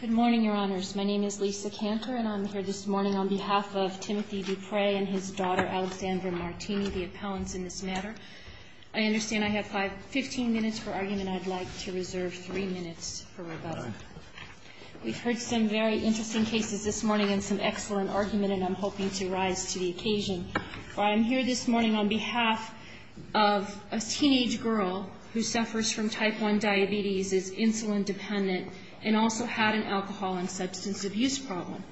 Good morning, Your Honors. My name is Lisa Kanter, and I'm here this morning on behalf of Timothy Dupree and his daughter Alexandra Martini, the appellants in this matter. I understand I have 15 minutes for argument. I'd like to reserve 3 minutes for rebuttal. We've heard some very interesting cases this morning and some excellent argument, and I'm hoping to rise to the occasion. But I'm here this morning on behalf of a teenage girl who suffers from type 1 diabetes, is insulin dependent, and also had an alcohol and substance abuse problem.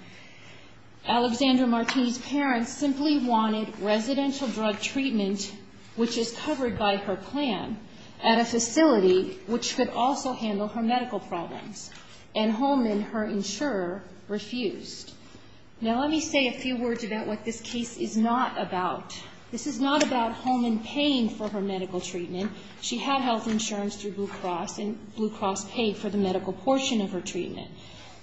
Alexandra Martini's parents simply wanted residential drug treatment, which is covered by her plan, at a facility which could also handle her medical problems, and Holman, her insurer, refused. Now let me say a few words about what this case is not about. This is not about Holman paying for her medical treatment. She had health insurance through Blue Cross, and Blue Cross paid for the medical portion of her treatment.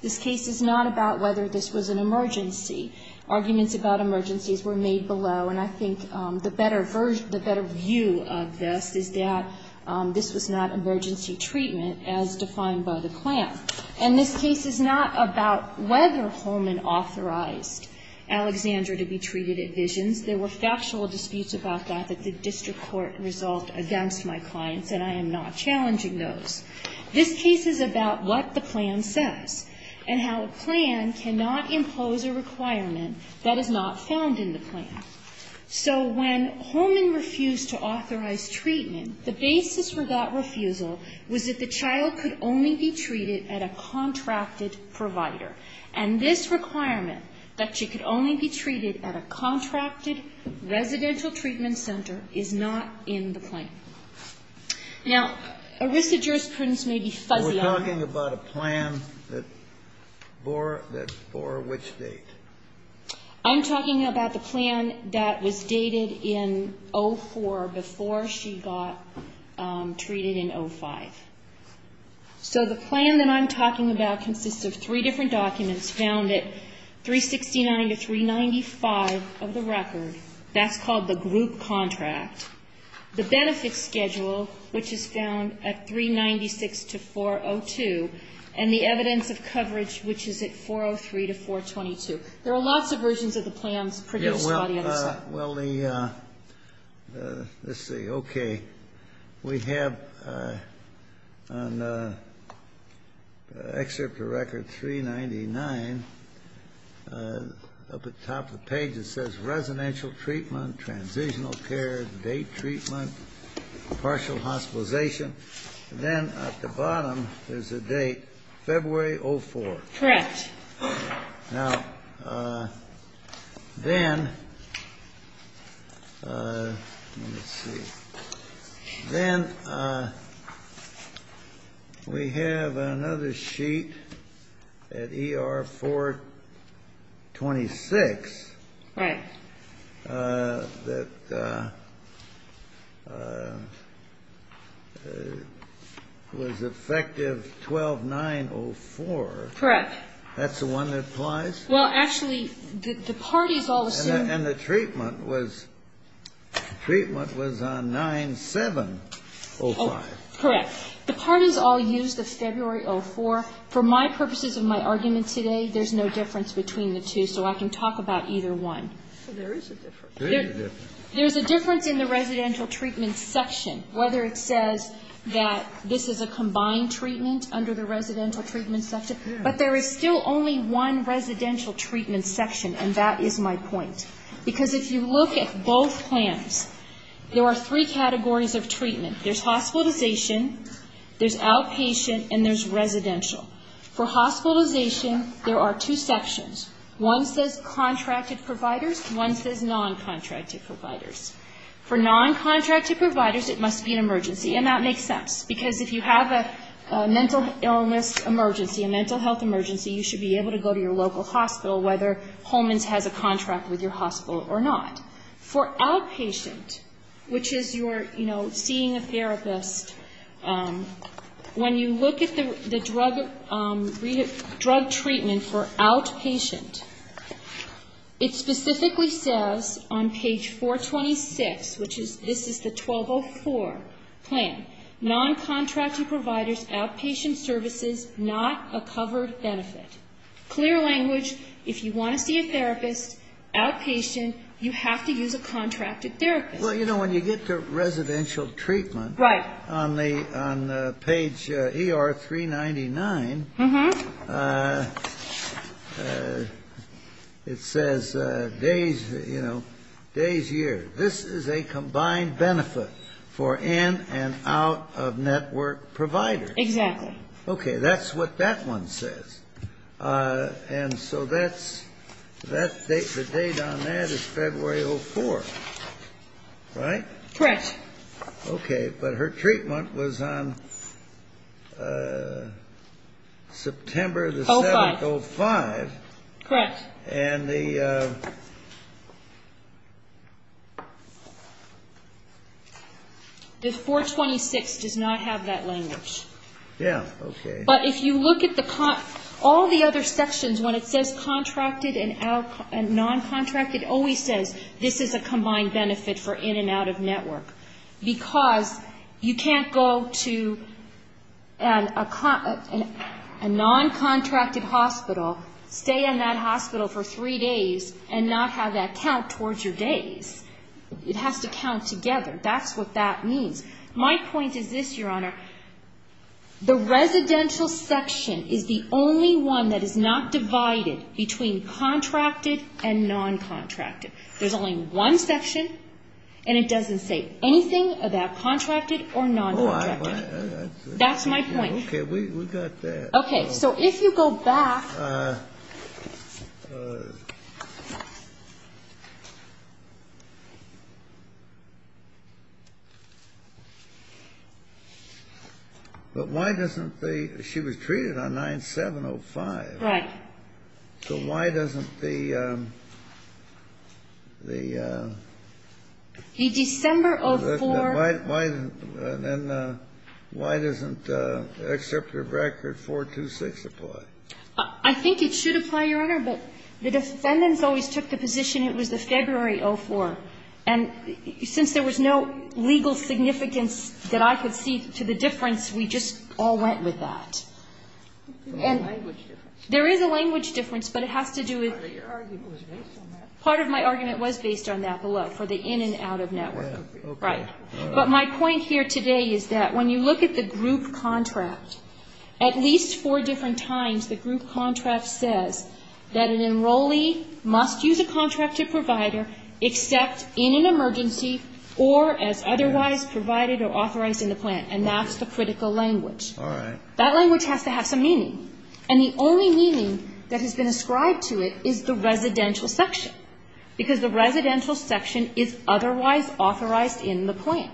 This case is not about whether this was an emergency. Arguments about emergencies were made below, and I think the better view of this is that this was not emergency treatment, as defined by the plan. And this case is not about whether Holman authorized Alexandra to be treated at Visions. There were factual disputes about that that the district court resolved against my clients, and I am not challenging those. This case is about what the plan says and how a plan cannot impose a requirement that is not found in the plan. So when Holman refused to authorize treatment, the basis for that refusal was that the child could only be treated at a contracted provider. And this requirement, that she could only be treated at a contracted residential treatment center, is not in the plan. Now, a risk of jurisprudence may be fuzzy on that. We're talking about a plan that bore which date? I'm talking about the plan that was dated in 2004 before she got treated in 2005. So the plan that I'm talking about consists of three different documents found at 369 to 395 of the record. That's called the group contract. The benefit schedule, which is found at 396 to 402, and the evidence of coverage, which is at 403 to 422. There are lots of versions of the plans produced by the other side. Well, let's see. Okay. We have an excerpt of record 399. Up at the top of the page, it says residential treatment, transitional care, date treatment, partial hospitalization. Then at the bottom, there's a date, February 04. Correct. Now, then we have another sheet at ER 426. Right. That was effective 12-9-0-4. Correct. That's the one that applies? Well, actually, the parties all assumed that. And the treatment was on 9-7-0-5. Correct. The parties all used the February 04. For my purposes of my argument today, there's no difference between the two, so I can talk about either one. So there is a difference. There is a difference. There's a difference in the residential treatment section, whether it says that this is a combined treatment under the residential treatment section. But there is still only one residential treatment section, and that is my point. Because if you look at both plans, there are three categories of treatment. There's hospitalization, there's outpatient, and there's residential. For hospitalization, there are two sections. One says contracted providers. One says non-contracted providers. And that makes sense, because if you have a mental illness emergency, a mental health emergency, you should be able to go to your local hospital, whether Holman's has a contract with your hospital or not. For outpatient, which is your, you know, seeing a therapist, when you look at the drug treatment for outpatient, it specifically says on page 426, which is, this is the 1204 plan, non-contracted providers, outpatient services, not a covered benefit. Clear language, if you want to see a therapist, outpatient, you have to use a contracted therapist. Well, you know, when you get to residential treatment, on page ER 399, it says days, you know, days, years. This is a combined benefit for in and out of network providers. Exactly. Okay, that's what that one says. And so that's, the date on that is February 04, right? Correct. Okay, but her treatment was on September the 7th, 05. Correct. And the. The 426 does not have that language. Yeah, okay. But if you look at the, all the other sections, when it says contracted and non-contracted, it always says this is a combined benefit for in and out of network. Because you can't go to a non-contracted hospital, stay in that hospital for three days, and not have that count towards your days. It has to count together. That's what that means. My point is this, Your Honor. The residential section is the only one that is not divided between contracted and non-contracted. There's only one section, and it doesn't say anything about contracted or non-contracted. That's my point. Okay, we got that. Okay, so if you go back. But why doesn't the, she was treated on 9-7-05. Right. So why doesn't the, the. The December 04. Why doesn't, then, why doesn't the excerpt of record 426 apply? I think it should apply, Your Honor. But the defendants always took the position it was the February 04. And since there was no legal significance that I could see to the difference, we just all went with that. There is a language difference, but it has to do with. Part of your argument was based on that. Part of my argument was based on that for the in and out of network. Right. But my point here today is that when you look at the group contract, at least four different times the group contract says that an enrollee must use a contracted provider except in an emergency or as otherwise provided or authorized in the plan. And that's the critical language. All right. That language has to have some meaning. And the only meaning that has been ascribed to it is the residential section. Because the residential section is otherwise authorized in the plan.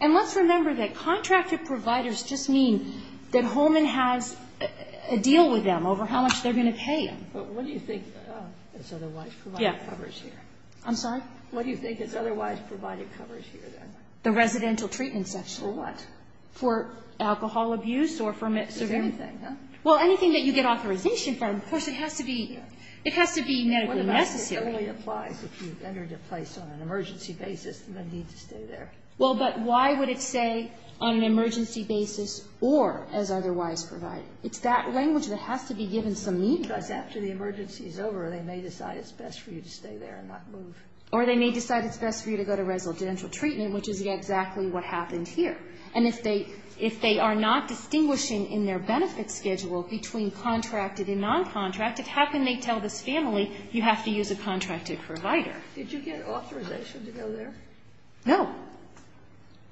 And let's remember that contracted providers just mean that Holman has a deal with them over how much they're going to pay them. But what do you think is otherwise provided coverage here? Yeah. I'm sorry? What do you think is otherwise provided coverage here, then? The residential treatment section. For what? For alcohol abuse or for severe. Anything, huh? Well, anything that you get authorization from. Of course, it has to be ñ it has to be medically necessary. If you've entered a place on an emergency basis, you're going to need to stay there. Well, but why would it say on an emergency basis or as otherwise provided? It's that language that has to be given some meaning. Because after the emergency is over, they may decide it's best for you to stay there and not move. Or they may decide it's best for you to go to residential treatment, which is exactly what happened here. And if they are not distinguishing in their benefit schedule between contracted and non-contracted, how can they tell this family you have to use a contracted provider? Did you get authorization to go there? No.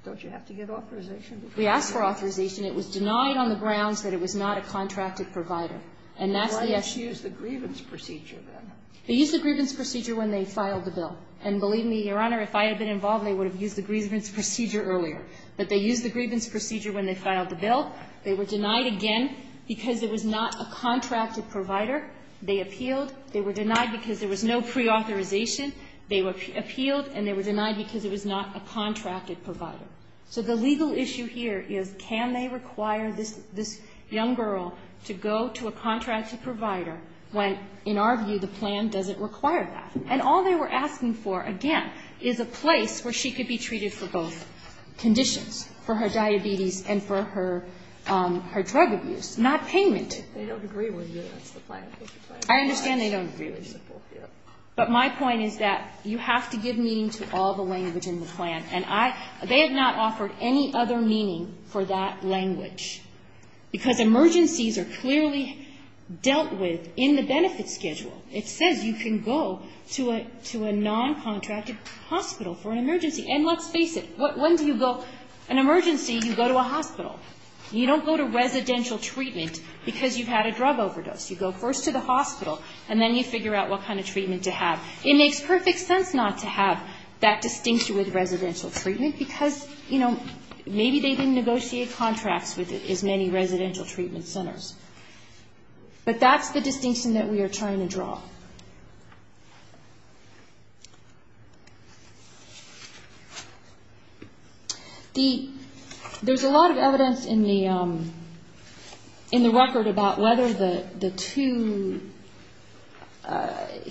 Don't you have to get authorization to go there? We asked for authorization. It was denied on the grounds that it was not a contracted provider. And that's the issue. Why didn't you use the grievance procedure, then? They used the grievance procedure when they filed the bill. And believe me, Your Honor, if I had been involved, they would have used the grievance procedure earlier. But they used the grievance procedure when they filed the bill. They were denied again because it was not a contracted provider. They appealed. They were denied because there was no preauthorization. They appealed, and they were denied because it was not a contracted provider. So the legal issue here is can they require this young girl to go to a contracted provider when, in our view, the plan doesn't require that. And all they were asking for, again, is a place where she could be treated for both conditions, for her diabetes and for her drug abuse, not payment. They don't agree with you. That's the plan. I understand they don't agree with you. But my point is that you have to give meaning to all the language in the plan. And they have not offered any other meaning for that language, because emergencies are clearly dealt with in the benefit schedule. And let's face it. When do you go? An emergency, you go to a hospital. You don't go to residential treatment because you've had a drug overdose. You go first to the hospital, and then you figure out what kind of treatment to have. It makes perfect sense not to have that distinction with residential treatment, because, you know, maybe they didn't negotiate contracts with as many residential treatment centers. But that's the distinction that we are trying to draw. There's a lot of evidence in the record about whether the two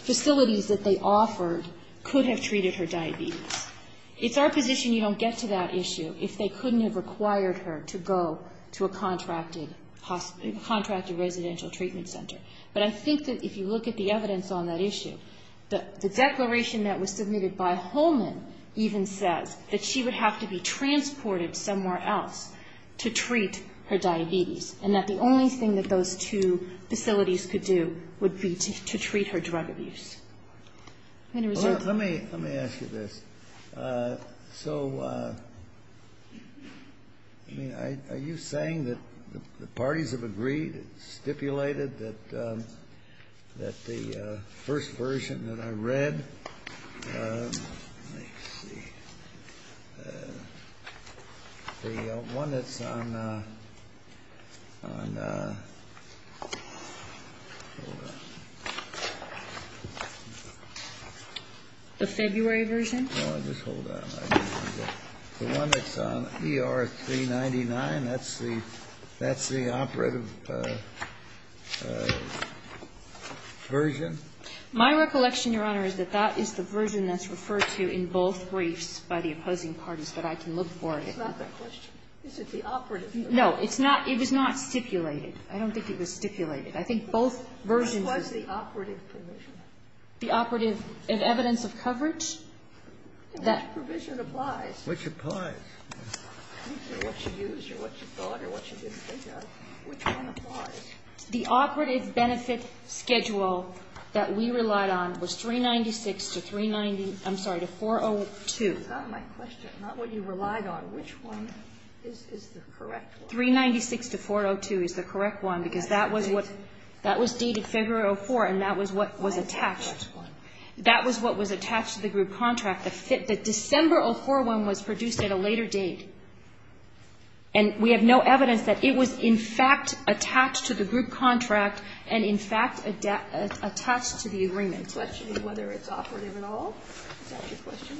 facilities that they offered could have treated her diabetes. It's our position you don't get to that issue if they couldn't have required her to go to a contracted residential treatment center. But I think that if you look at the evidence, the evidence on that issue, the declaration that was submitted by Holman even says that she would have to be transported somewhere else to treat her diabetes, and that the only thing that those two facilities could do would be to treat her drug abuse. Let me ask you this. So, I mean, are you saying that the parties have agreed, stipulated that the first version that I read, let's see, the one that's on the February version? No, just hold on. The one that's on ER-399, that's the operative version? My recollection, Your Honor, is that that is the version that's referred to in both briefs by the opposing parties, but I can look for it. It's not that question. Is it the operative? No, it's not. It was not stipulated. I don't think it was stipulated. I think both versions of it. What's the operative provision? The operative evidence of coverage? That provision applies. Which applies? What you used or what you thought or what you didn't think of. Which one applies? The operative benefit schedule that we relied on was 396 to 390, I'm sorry, to 402. That's not my question. Not what you relied on. Which one is the correct one? 396 to 402 is the correct one, because that was what, that was dated February 04, and that was what was attached. That was what was attached to the group contract. The December 04 one was produced at a later date. And we have no evidence that it was, in fact, attached to the group contract and, in fact, attached to the agreement. So that should be whether it's operative at all? Is that your question?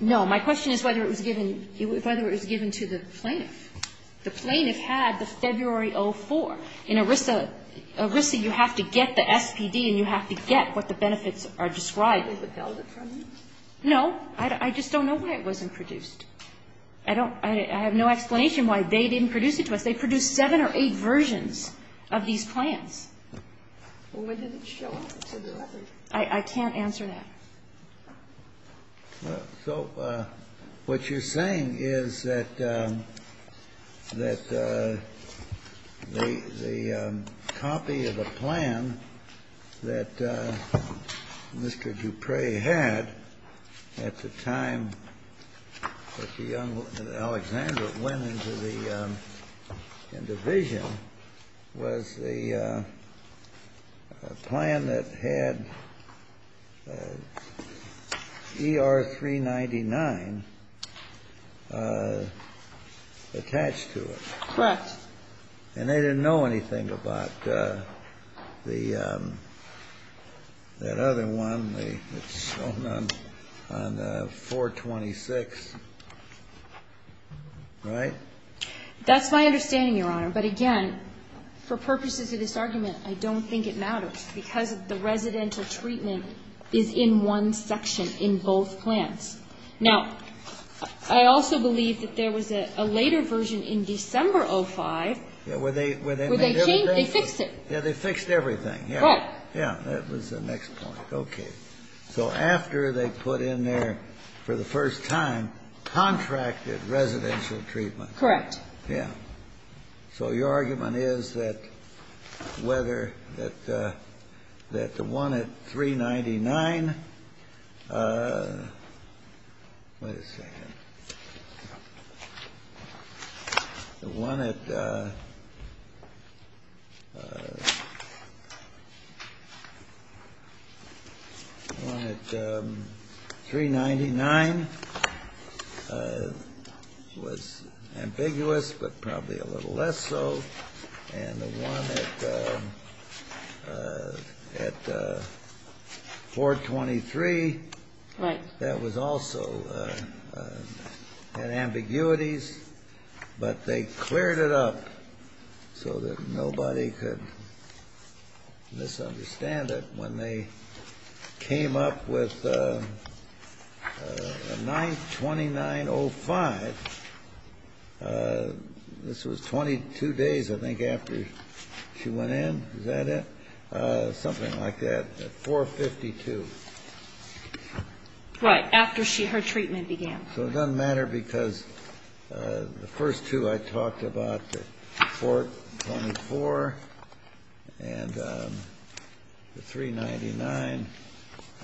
No. My question is whether it was given to the plaintiff. The plaintiff had the February 04. In ERISA, you have to get the SPD and you have to get what the benefits are described. Was it held in front of you? No. I just don't know why it wasn't produced. I don't, I have no explanation why they didn't produce it to us. They produced seven or eight versions of these plans. Well, where did it show up? I can't answer that. So what you're saying is that the copy of a plan that Mr. Dupre had at the time that the young woman, Alexandra, went into the division was the plan that had ER-399 attached to it. Correct. And they didn't know anything about the, that other one that's shown on 426, right? That's my understanding, Your Honor. But, again, for purposes of this argument, I don't think it matters because the residential treatment is in one section in both plans. Now, I also believe that there was a later version in December 05 where they changed, they fixed it. Yeah, they fixed everything. Right. Yeah, that was the next point. Okay. So after they put in their, for the first time, contracted residential treatment. Correct. Yeah. So your argument is that whether, that the one at 399, wait a second, the one at 399 was ambiguous, but probably a little less so. And the one at 423. Right. That was also, had ambiguities, but they cleared it up so that nobody could misunderstand it when they came up with a 929.05. This was 22 days, I think, after she went in. Is that it? Something like that, at 452. Right. After she, her treatment began. So it doesn't matter because the first two I talked about, the 424 and the 399,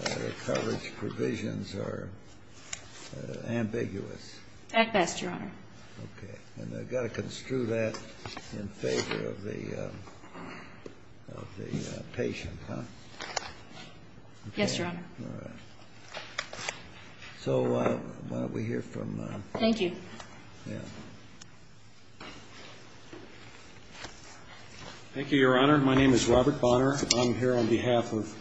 their coverage provisions are ambiguous. At best, Your Honor. Okay. And I've got to construe that in favor of the patient, huh? Yes, Your Honor. All right. So why don't we hear from. Thank you. Yeah. Thank you, Your Honor. My name is Robert Bonner. I'm here on behalf of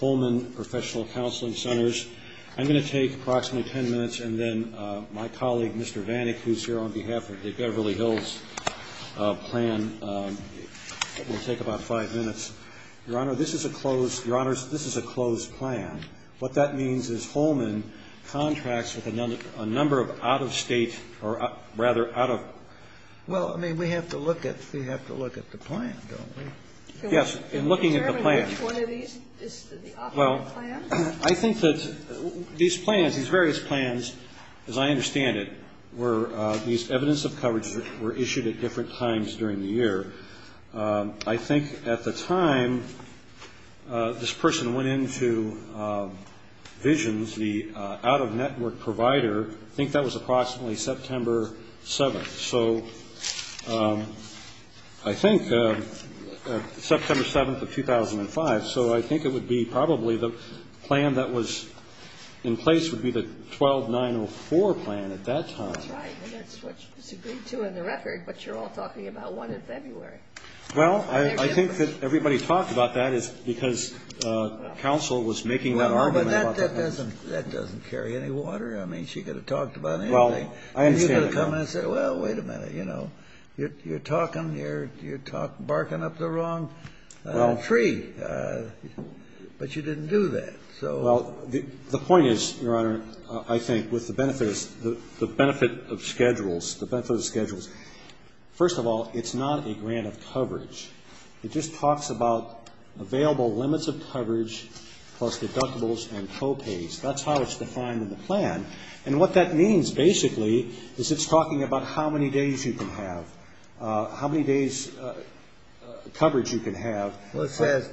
Holman Professional Counseling Centers. I'm going to take approximately ten minutes, and then my colleague, Mr. Vanik, who's here on behalf of the Beverly Hills plan, will take about five minutes. Your Honor, this is a closed, Your Honors, this is a closed plan. What that means is Holman contracts with a number of out-of-state or rather out-of. Well, I mean, we have to look at the plan, don't we? Yes, in looking at the plan. Can we determine which one of these is the operating plan? Well, I think that these plans, these various plans, as I understand it, were these evidence of coverage that were issued at different times during the year. I think at the time this person went into Visions, the out-of-network provider, I think that was approximately September 7th. So I think September 7th of 2005. So I think it would be probably the plan that was in place would be the 12904 plan at that time. That's right. And that's what's agreed to in the record, but you're all talking about one in February. Well, I think that everybody talked about that is because counsel was making that argument about the plan. Well, but that doesn't carry any water. I mean, she could have talked about anything. Well, I understand that. And you could have come in and said, well, wait a minute, you know, you're talking, you're barking up the wrong tree. But you didn't do that. Well, the point is, Your Honor, I think with the benefit of schedules, first of all, it's not a grant of coverage. It just talks about available limits of coverage plus deductibles and co-pays. That's how it's defined in the plan. And what that means basically is it's talking about how many days you can have, how many days coverage you can have. Well, it says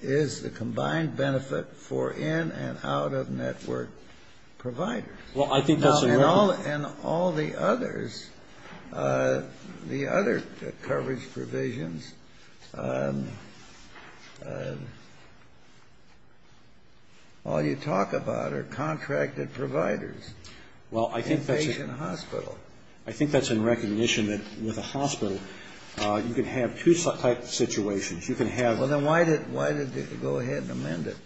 is the combined benefit for in and out of network providers. And all the others, the other coverage provisions, all you talk about are contracted providers. Well, I think that's in recognition that with a hospital, you can have two type of situations. You can have. Well, then why did they go ahead and amend it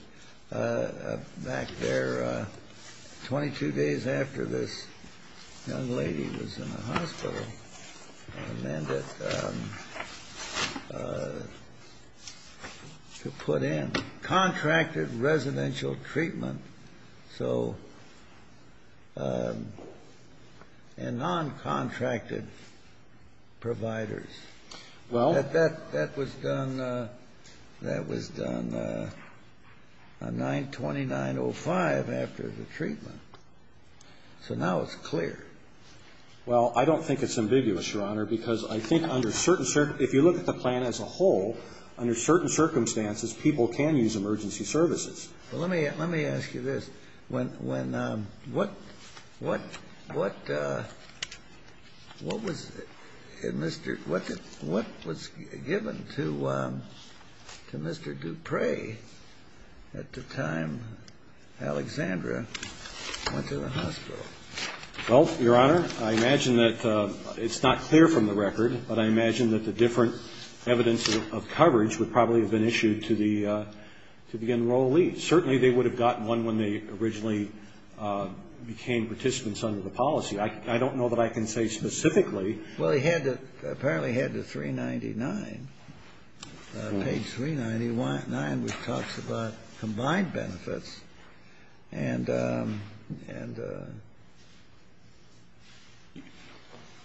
back there 22 days after this young lady was in the hospital? And then to put in contracted residential treatment, so and non-contracted providers. Well. That was done on 929.05 after the treatment. So now it's clear. Well, I don't think it's ambiguous, Your Honor, because I think under certain circumstances, if you look at the plan as a whole, under certain circumstances, people can use emergency services. Well, let me ask you this. What was given to Mr. Dupre at the time Alexandra went to the hospital? Well, Your Honor, I imagine that it's not clear from the record, but I imagine that the different evidence of coverage would probably have been issued to the enrollees. Certainly they would have gotten one when they originally became participants under the policy. I don't know that I can say specifically. Well, he had to apparently head to 399, page 399, which talks about combined benefits. And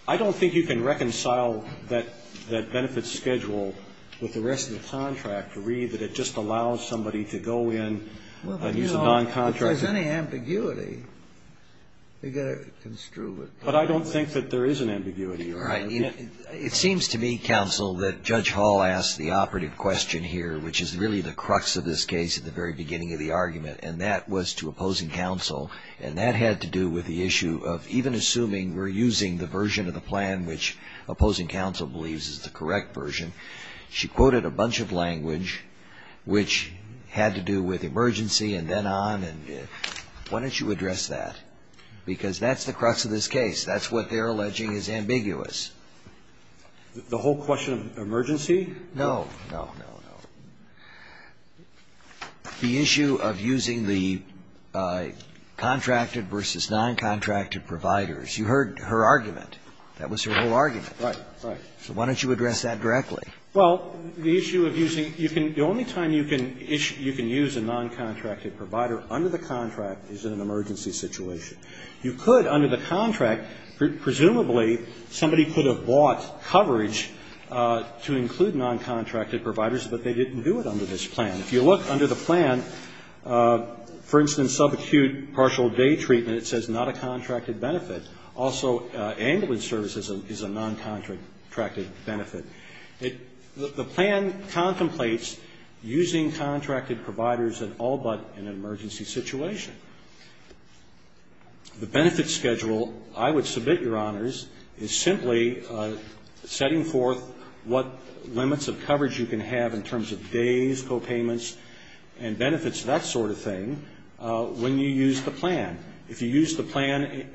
I don't think you can reconcile that benefit schedule with the rest of the contract to read that it just allows somebody to go in and use a non-contract. Well, if there's any ambiguity, you've got to construe it. But I don't think that there is an ambiguity, Your Honor. It seems to me, counsel, that Judge Hall asked the operative question here, which is really the crux of this case at the very beginning of the argument, and that was to opposing counsel. And that had to do with the issue of even assuming we're using the version of the plan which opposing counsel believes is the correct version. She quoted a bunch of language which had to do with emergency and then on. And why don't you address that? Because that's the crux of this case. That's what they're alleging is ambiguous. The whole question of emergency? No, no, no, no. The issue of using the contracted versus non-contracted providers. You heard her argument. That was her whole argument. Right, right. So why don't you address that directly? Well, the issue of using, you can, the only time you can use a non-contracted provider under the contract is in an emergency situation. You could, under the contract, presumably somebody could have bought coverage to include non-contracted providers, but they didn't do it under this plan. If you look under the plan, for instance, subacute partial day treatment, it says not a contracted benefit. Also, ambulance services is a non-contracted benefit. The plan contemplates using contracted providers in all but an emergency situation. The benefits schedule, I would submit, Your Honors, is simply setting forth what limits of coverage you can have in terms of days, copayments, and benefits, that sort of thing, when you use the plan. If you use the plan,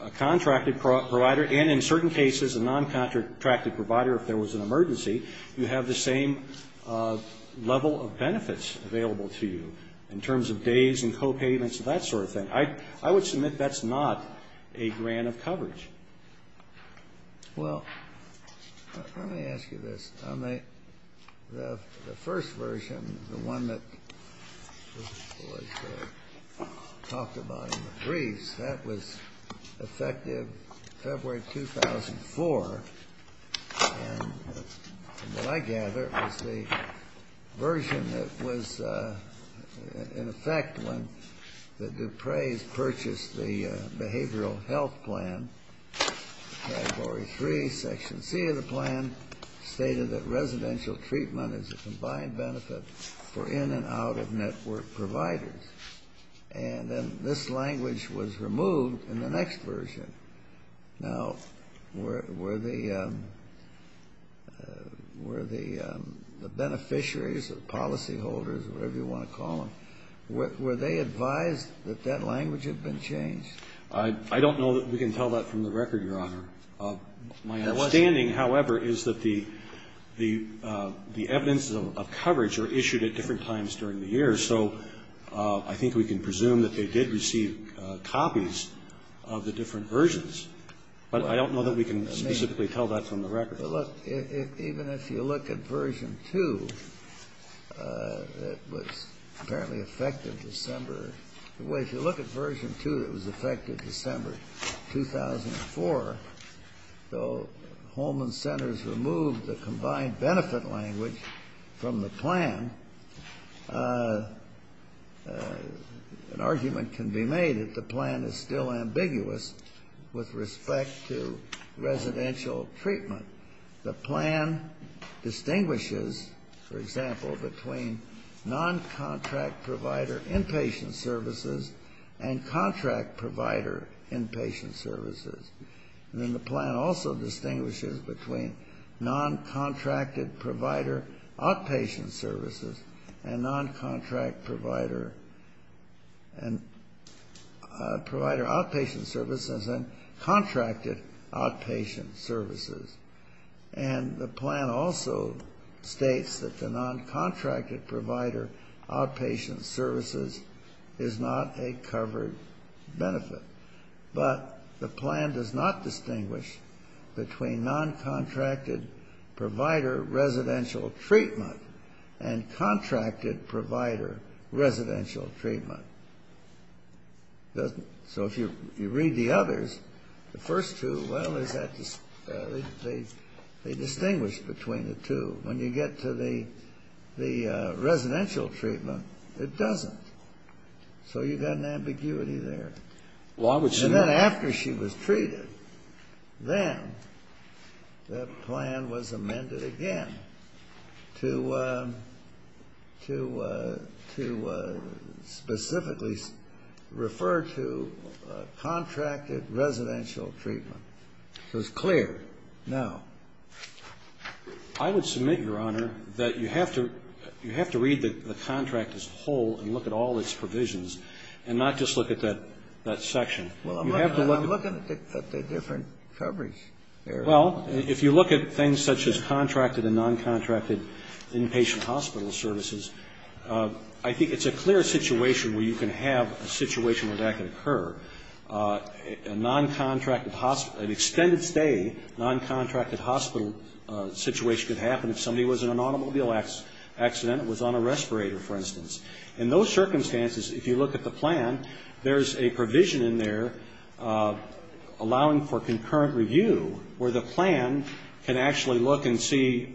a contracted provider, and in certain cases, a non-contracted provider, if there was an emergency, you have the same level of benefits available to you in terms of days and copayments, that sort of thing. I would submit that's not a grant of coverage. Well, let me ask you this. The first version, the one that was talked about in the briefs, that was effective February 2004. And from what I gather, it was the version that was in effect when the Dupre's purchased the behavioral health plan, Category 3, Section C of the plan, stated that residential treatment is a combined benefit for in and out of network providers. And then this language was removed in the next version. Now, were the beneficiaries, the policyholders, whatever you want to call them, were they advised that that language had been changed? I don't know that we can tell that from the record, Your Honor. My understanding, however, is that the evidence of coverage are issued at different times during the year, so I think we can presume that they did receive copies of the different versions. But I don't know that we can specifically tell that from the record. Well, look, even if you look at version 2, it was apparently effective December Well, if you look at version 2, it was effective December 2004. Though Holman Centers removed the combined benefit language from the plan, an argument can be made that the plan is still ambiguous with respect to residential treatment. The plan distinguishes, for example, between non-contract provider inpatient services and contract provider inpatient services. And then the plan also distinguishes between non-contracted provider outpatient services and non-contract provider outpatient services and contracted outpatient services. And the plan also states that the non-contracted provider outpatient services is not a covered benefit. But the plan does not distinguish between non-contracted provider residential treatment and contracted provider residential treatment. So if you read the others, the first two, well, they distinguish between the two. When you get to the residential treatment, it doesn't. So you've got an ambiguity there. And then after she was treated, then the plan was amended again to specifically refer to contracted residential treatment. So it's clear now. I would submit, Your Honor, that you have to read the contract as a whole and look at all its provisions and not just look at that section. You have to look at the different coverages. Well, if you look at things such as contracted and non-contracted inpatient hospital services, I think it's a clear situation where you can have a situation where that could occur. A non-contracted hospital, an extended stay, non-contracted hospital situation could happen if somebody was in an automobile accident and was on a respirator, for instance. In those circumstances, if you look at the plan, there's a provision in there allowing for concurrent review where the plan can actually look and see,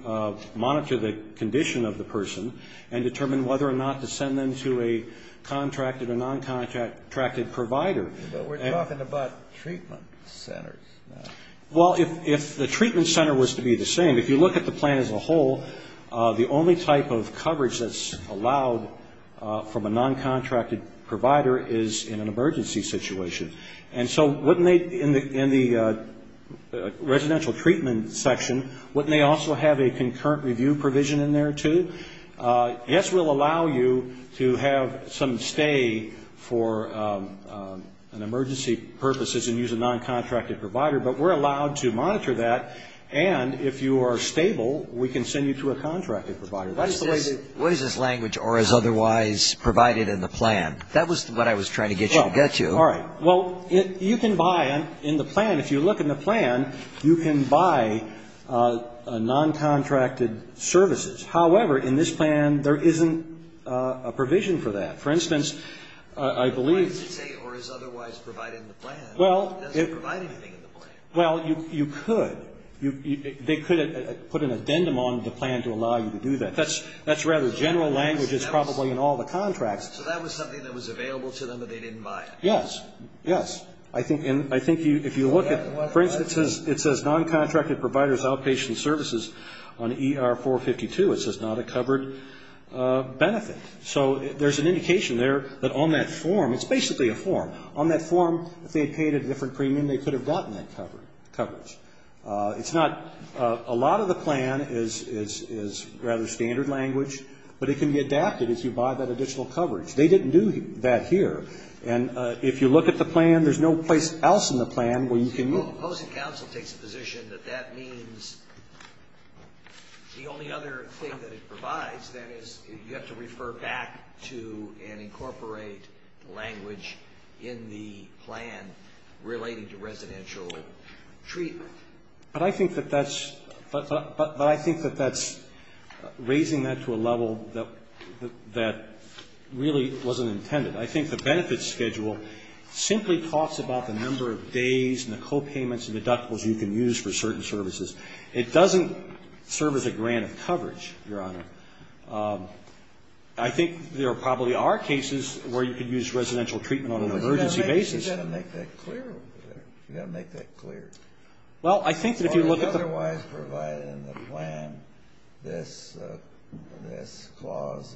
monitor the condition of the person and determine whether or not to send them to a contracted or non-contracted provider. But we're talking about treatment centers. Well, if the treatment center was to be the same, if you look at the plan as a whole, the only type of coverage that's allowed from a non-contracted provider is in an emergency situation. And so wouldn't they, in the residential treatment section, wouldn't they also have a concurrent review provision in there, too? Yes, we'll allow you to have some stay for an emergency purposes and use a non-contracted provider, but we're allowed to monitor that. And if you are stable, we can send you to a contracted provider. What is this language, or is otherwise provided in the plan? That was what I was trying to get you to get to. All right. Well, you can buy in the plan, if you look in the plan, you can buy non-contracted providers outpatient services. However, in this plan, there isn't a provision for that. For instance, I believe. But what does it say, or is otherwise provided in the plan? It doesn't provide anything in the plan. Well, you could. They could put an addendum on the plan to allow you to do that. That's rather general language. It's probably in all the contracts. So that was something that was available to them, but they didn't buy it? Yes. Yes. I think if you look at, for instance, it says non-contracted providers outpatient services on ER 452, it says not a covered benefit. So there's an indication there that on that form, it's basically a form. On that form, if they had paid a different premium, they could have gotten that coverage. It's not, a lot of the plan is rather standard language, but it can be adapted if you buy that additional coverage. They didn't do that here. And if you look at the plan, there's no place else in the plan where you can Well, the opposing counsel takes the position that that means the only other thing that it provides, then, is you have to refer back to and incorporate language in the plan relating to residential treatment. But I think that that's raising that to a level that really wasn't intended. I think the benefits schedule simply talks about the number of days and the copayments and deductibles you can use for certain services. It doesn't serve as a grant of coverage, Your Honor. I think there probably are cases where you can use residential treatment on an emergency basis. You've got to make that clear over there. You've got to make that clear. Well, I think that if you look at the Otherwise provided in the plan, this clause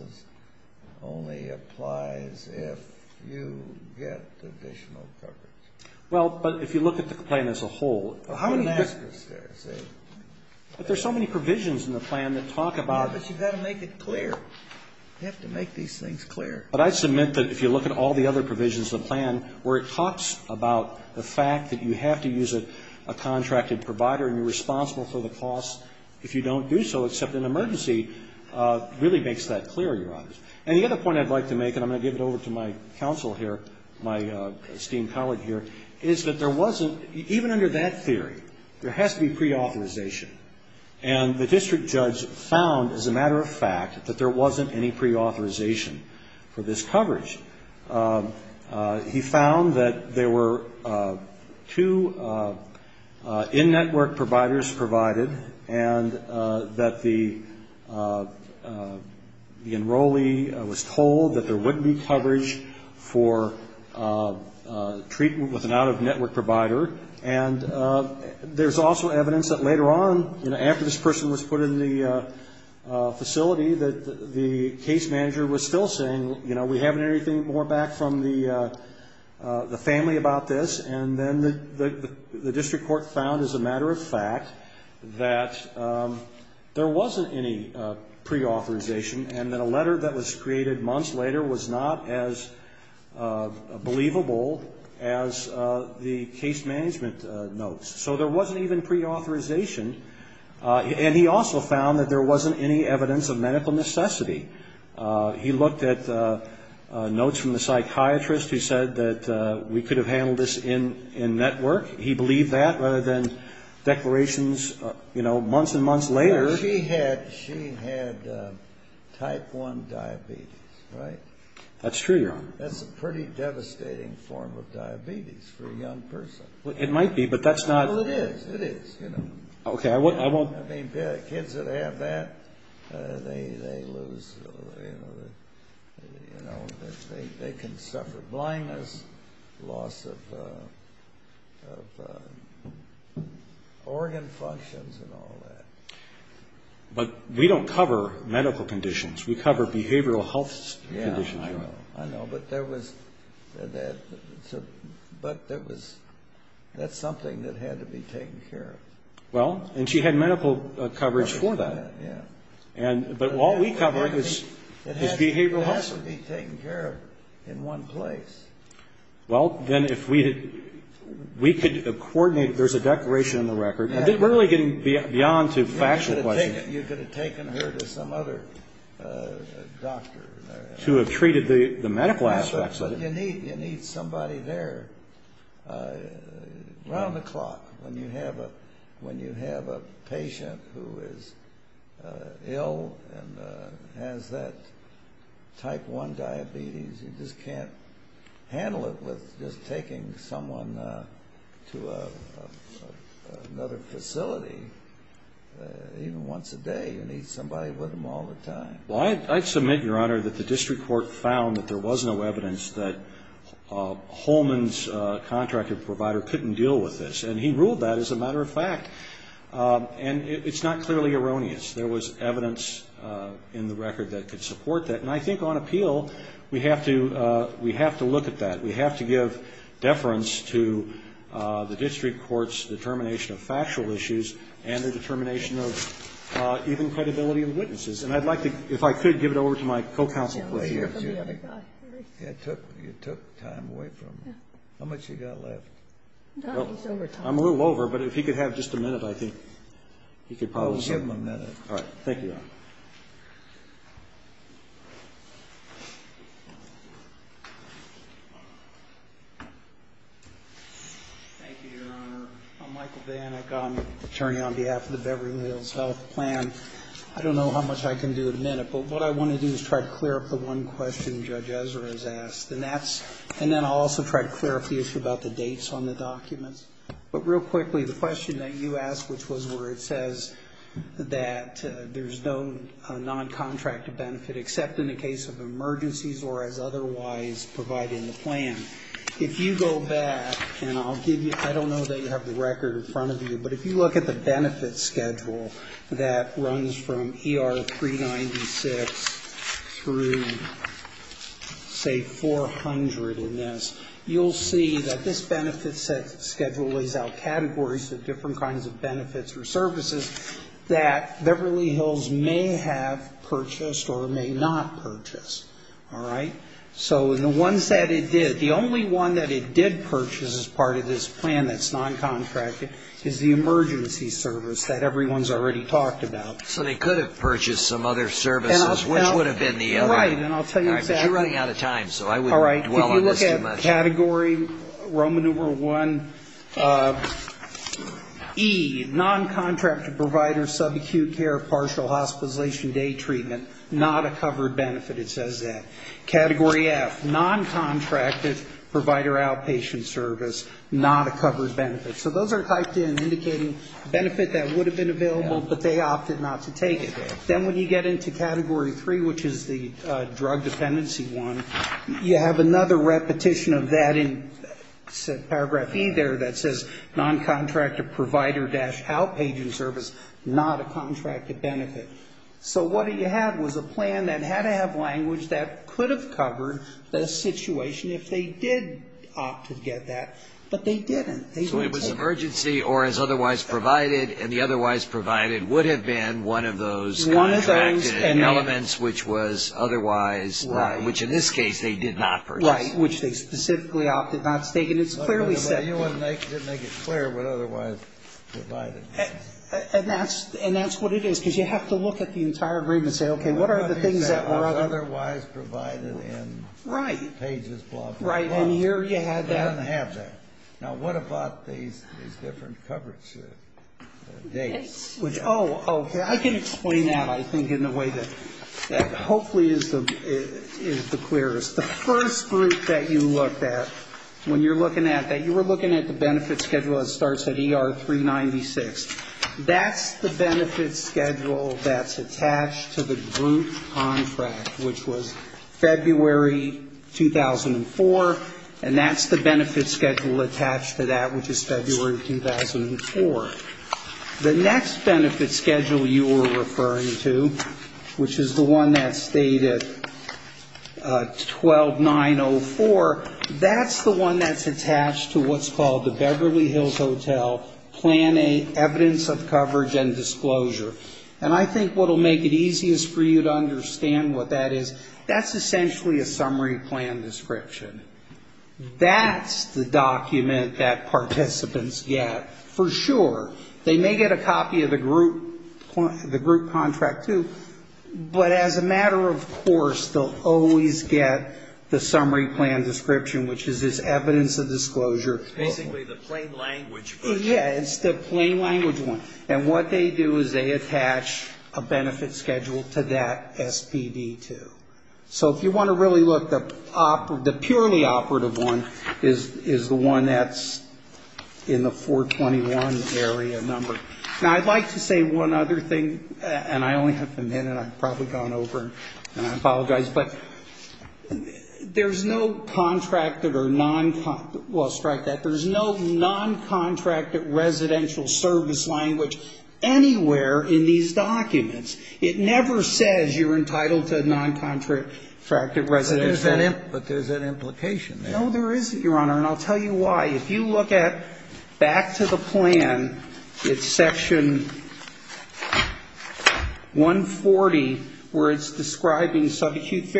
only applies if you get additional coverage. Well, but if you look at the plan as a whole, there's so many provisions in the plan that talk about But you've got to make it clear. You have to make these things clear. But I submit that if you look at all the other provisions of the plan where it if you don't do so, except in an emergency, really makes that clear, Your Honor. And the other point I'd like to make, and I'm going to give it over to my counsel here, my esteemed colleague here, is that there wasn't, even under that theory, there has to be preauthorization. And the district judge found, as a matter of fact, that there wasn't any preauthorization for this coverage. He found that there were two in-network providers provided, and that the enrollee was told that there wouldn't be coverage for treatment with an out-of-network provider. And there's also evidence that later on, you know, after this person was put in the facility, that the case manager was still saying, you know, we haven't heard anything more back from the family about this. And then the district court found, as a matter of fact, that there wasn't any preauthorization, and that a letter that was created months later was not as believable as the case management notes. So there wasn't even preauthorization. And he also found that there wasn't any evidence of medical necessity. He looked at notes from the psychiatrist who said that we could have handled this in-network. He believed that, rather than declarations, you know, months and months later. She had type 1 diabetes, right? That's true. That's a pretty devastating form of diabetes for a young person. It might be, but that's not Well, it is. It is, you know. Okay, I won't. I mean, kids that have that, they lose, you know, they can suffer blindness, loss of organ functions and all that. But we don't cover medical conditions. We cover behavioral health conditions. Yeah, I know. But there was, that's something that had to be taken care of. Well, and she had medical coverage for that. Yeah. But all we cover is behavioral health. It has to be taken care of in one place. Well, then if we could have coordinated, there's a declaration in the record. We're really getting beyond to factual questions. You could have taken her to some other doctor. To have treated the medical aspects of it. But you need somebody there around the clock. When you have a patient who is ill and has that type 1 diabetes, you just can't handle it with just taking someone to another facility. Even once a day, you need somebody with them all the time. Well, I submit, Your Honor, that the district court found that there was no evidence that Holman's contractor provider couldn't deal with this. And he ruled that as a matter of fact. And it's not clearly erroneous. There was evidence in the record that could support that. And I think on appeal, we have to look at that. We have to give deference to the district court's determination of factual issues and the determination of even credibility of witnesses. And I'd like to, if I could, give it over to my co-counsel. You took time away from me. How much have you got left? I'm a little over, but if he could have just a minute, I think he could probably. I'll give him a minute. All right. Thank you, Your Honor. Thank you, Your Honor. I'm Michael Vanik. I'm an attorney on behalf of the Beverly Hills Health Plan. I don't know how much I can do in a minute, but what I want to do is try to clear up the one question Judge Ezra has asked. And then I'll also try to clear up the issue about the dates on the documents. But real quickly, the question that you asked, which was where it says that there's no non-contract benefit except in the case of emergencies or as otherwise provided in the plan. If you go back, and I'll give you, I don't know that you have the record in front of you, but if you look at the benefit schedule that runs from ER 396 through, say, 400 in this, you'll see that this benefit schedule lays out categories of different kinds of benefits or services that Beverly Hills may have purchased or may not purchase. All right? So the ones that it did, the only one that it did purchase as part of this plan that's non-contracted is the emergency service that everyone's already talked about. So they could have purchased some other services, which would have been the other. Right. And I'll tell you exactly. All right. But you're running out of time, so I wouldn't dwell on this too much. All right. If you look at category Roman numeral 1E, non-contracted provider, subacute care, partial hospitalization, day treatment, not a covered benefit, it says that. Category F, non-contracted provider outpatient service, not a covered benefit. So those are typed in indicating benefit that would have been available, but they opted not to take it. Then when you get into category 3, which is the drug dependency one, you have another repetition of that in paragraph E there that says, non-contracted provider-outpatient service, not a contracted benefit. So what you had was a plan that had to have language that could have covered the situation if they did opt to get that, but they didn't. So it was an emergency or as otherwise provided, and the otherwise provided would have been one of those contracted elements, which was otherwise, which in this case, they did not purchase. Right. Which they specifically opted not to take. And it's clearly set here. But you didn't make it clear what otherwise provided. And that's what it is, because you have to look at the entire agreement and say, okay, what are the things that were otherwise provided. Right. Right. And here you have that. You don't have that. Now, what about these different coverage dates? Oh, okay. I can explain that, I think, in a way that hopefully is the clearest. The first group that you looked at, when you're looking at that, you were looking at the benefit schedule that starts at ER 396. That's the benefit schedule that's attached to the group contract, which was February 2004, and that's the benefit schedule attached to that, which is February 2004. The next benefit schedule you were referring to, which is the one that's stated 12904, that's the one that's attached to what's called the Beverly Hills Hotel Plan A, Evidence of Coverage and Disclosure. And I think what will make it easiest for you to understand what that is, that's essentially a summary plan description. That's the document that participants get for sure. They may get a copy of the group contract, too, but as a matter of course, they'll always get the summary plan description, which is this Evidence of Disclosure. Basically the plain language version. Yeah, it's the plain language one. And what they do is they attach a benefit schedule to that SPD, too. So if you want to really look, the purely operative one is the one that's in the 421 area number. Now, I'd like to say one other thing, and I only have a minute. I've probably gone over and I apologize. But there's an implication there. No, there isn't, Your Honor, and I'll tell you why. If you look at back to the plan, it's section 140, where it's describing subacute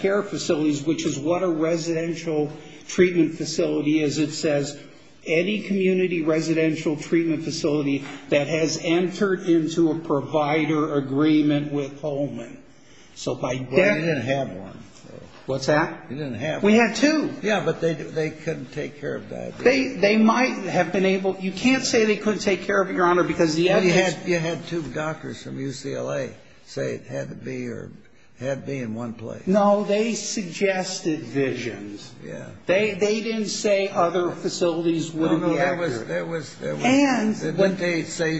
care facilities, which is what a residential treatment facility is. It says, any community residential treatment facility that has entered into a provider agreement with Holman. So by definition ---- We didn't have one. What's that? We didn't have one. We had two. Yeah, but they couldn't take care of that. They might have been able to. You can't say they couldn't take care of it, Your Honor, because the evidence ---- You had two doctors from UCLA say it had to be in one place. No, they suggested visions. Yeah. They didn't say other facilities wouldn't be accurate. No, no, there was ---- And ---- Didn't they say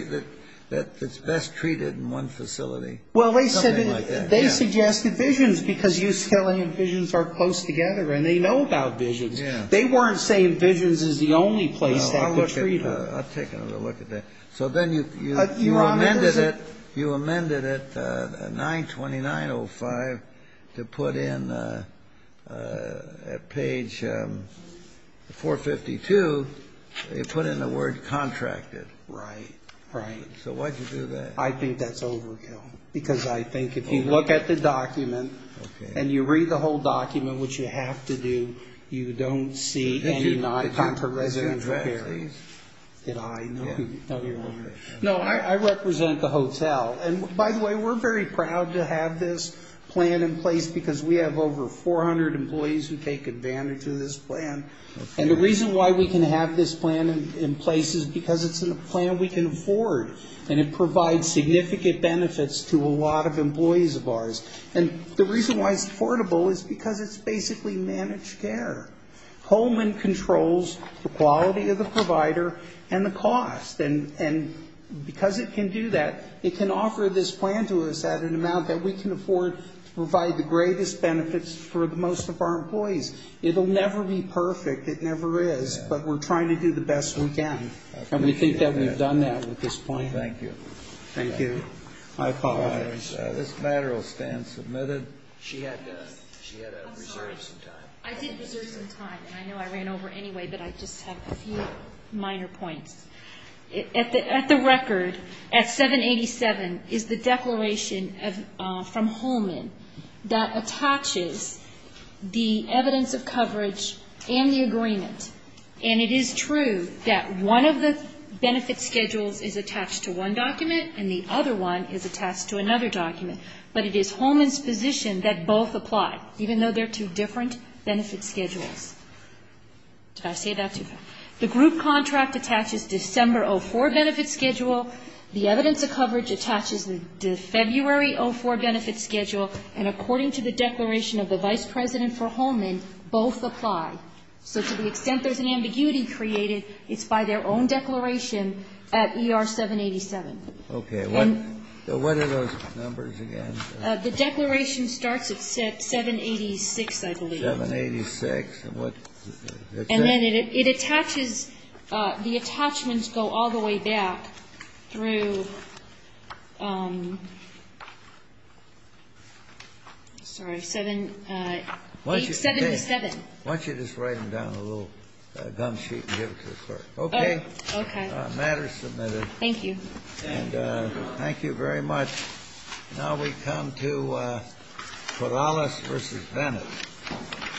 that it's best treated in one facility? Well, they said it ---- Something like that, yeah. They suggested visions because UCLA and visions are close together, and they know about visions. Yeah. They weren't saying visions is the only place that could treat it. I'll take another look at that. So then you ---- Your Honor, that is a ---- 452, they put in the word contracted. Right. Right. So why'd you do that? I think that's overkill because I think if you look at the document ---- Okay. And you read the whole document, which you have to do, you don't see any non-contracted residential care. Did you contract these? Did I? No. No, Your Honor. No, I represent the hotel, and by the way, we're very proud to have this plan in place because we have over 400 employees who take advantage of this plan. And the reason why we can have this plan in place is because it's a plan we can afford, and it provides significant benefits to a lot of employees of ours. And the reason why it's affordable is because it's basically managed care. Holman controls the quality of the provider and the cost, and because it can do that, it can offer this plan to us at an amount that we can afford to provide the greatest benefits for most of our employees. It will never be perfect. It never is, but we're trying to do the best we can. And we think that we've done that with this plan. Thank you. Thank you. I apologize. This matter will stand submitted. She had to reserve some time. I'm sorry. I did reserve some time, and I know I ran over anyway, but I just have a few minor points. At the record, at 787, is the declaration from Holman that attaches the evidence of coverage and the agreement. And it is true that one of the benefit schedules is attached to one document, and the other one is attached to another document. But it is Holman's position that both apply, even though they're two different benefit schedules. Did I say that too fast? The group contract attaches December 04 benefit schedule. The evidence of coverage attaches the February 04 benefit schedule. And according to the declaration of the Vice President for Holman, both apply. So to the extent there's an ambiguity created, it's by their own declaration at ER 787. Okay. What are those numbers again? The declaration starts at 786, I believe. 786. And what's that? And then it attaches, the attachments go all the way back through, sorry, 787. Why don't you just write them down on a little gum sheet and give it to the clerk? Okay. Okay. Matter submitted. Thank you. And thank you very much. Now we come to Corrales v. Bennett.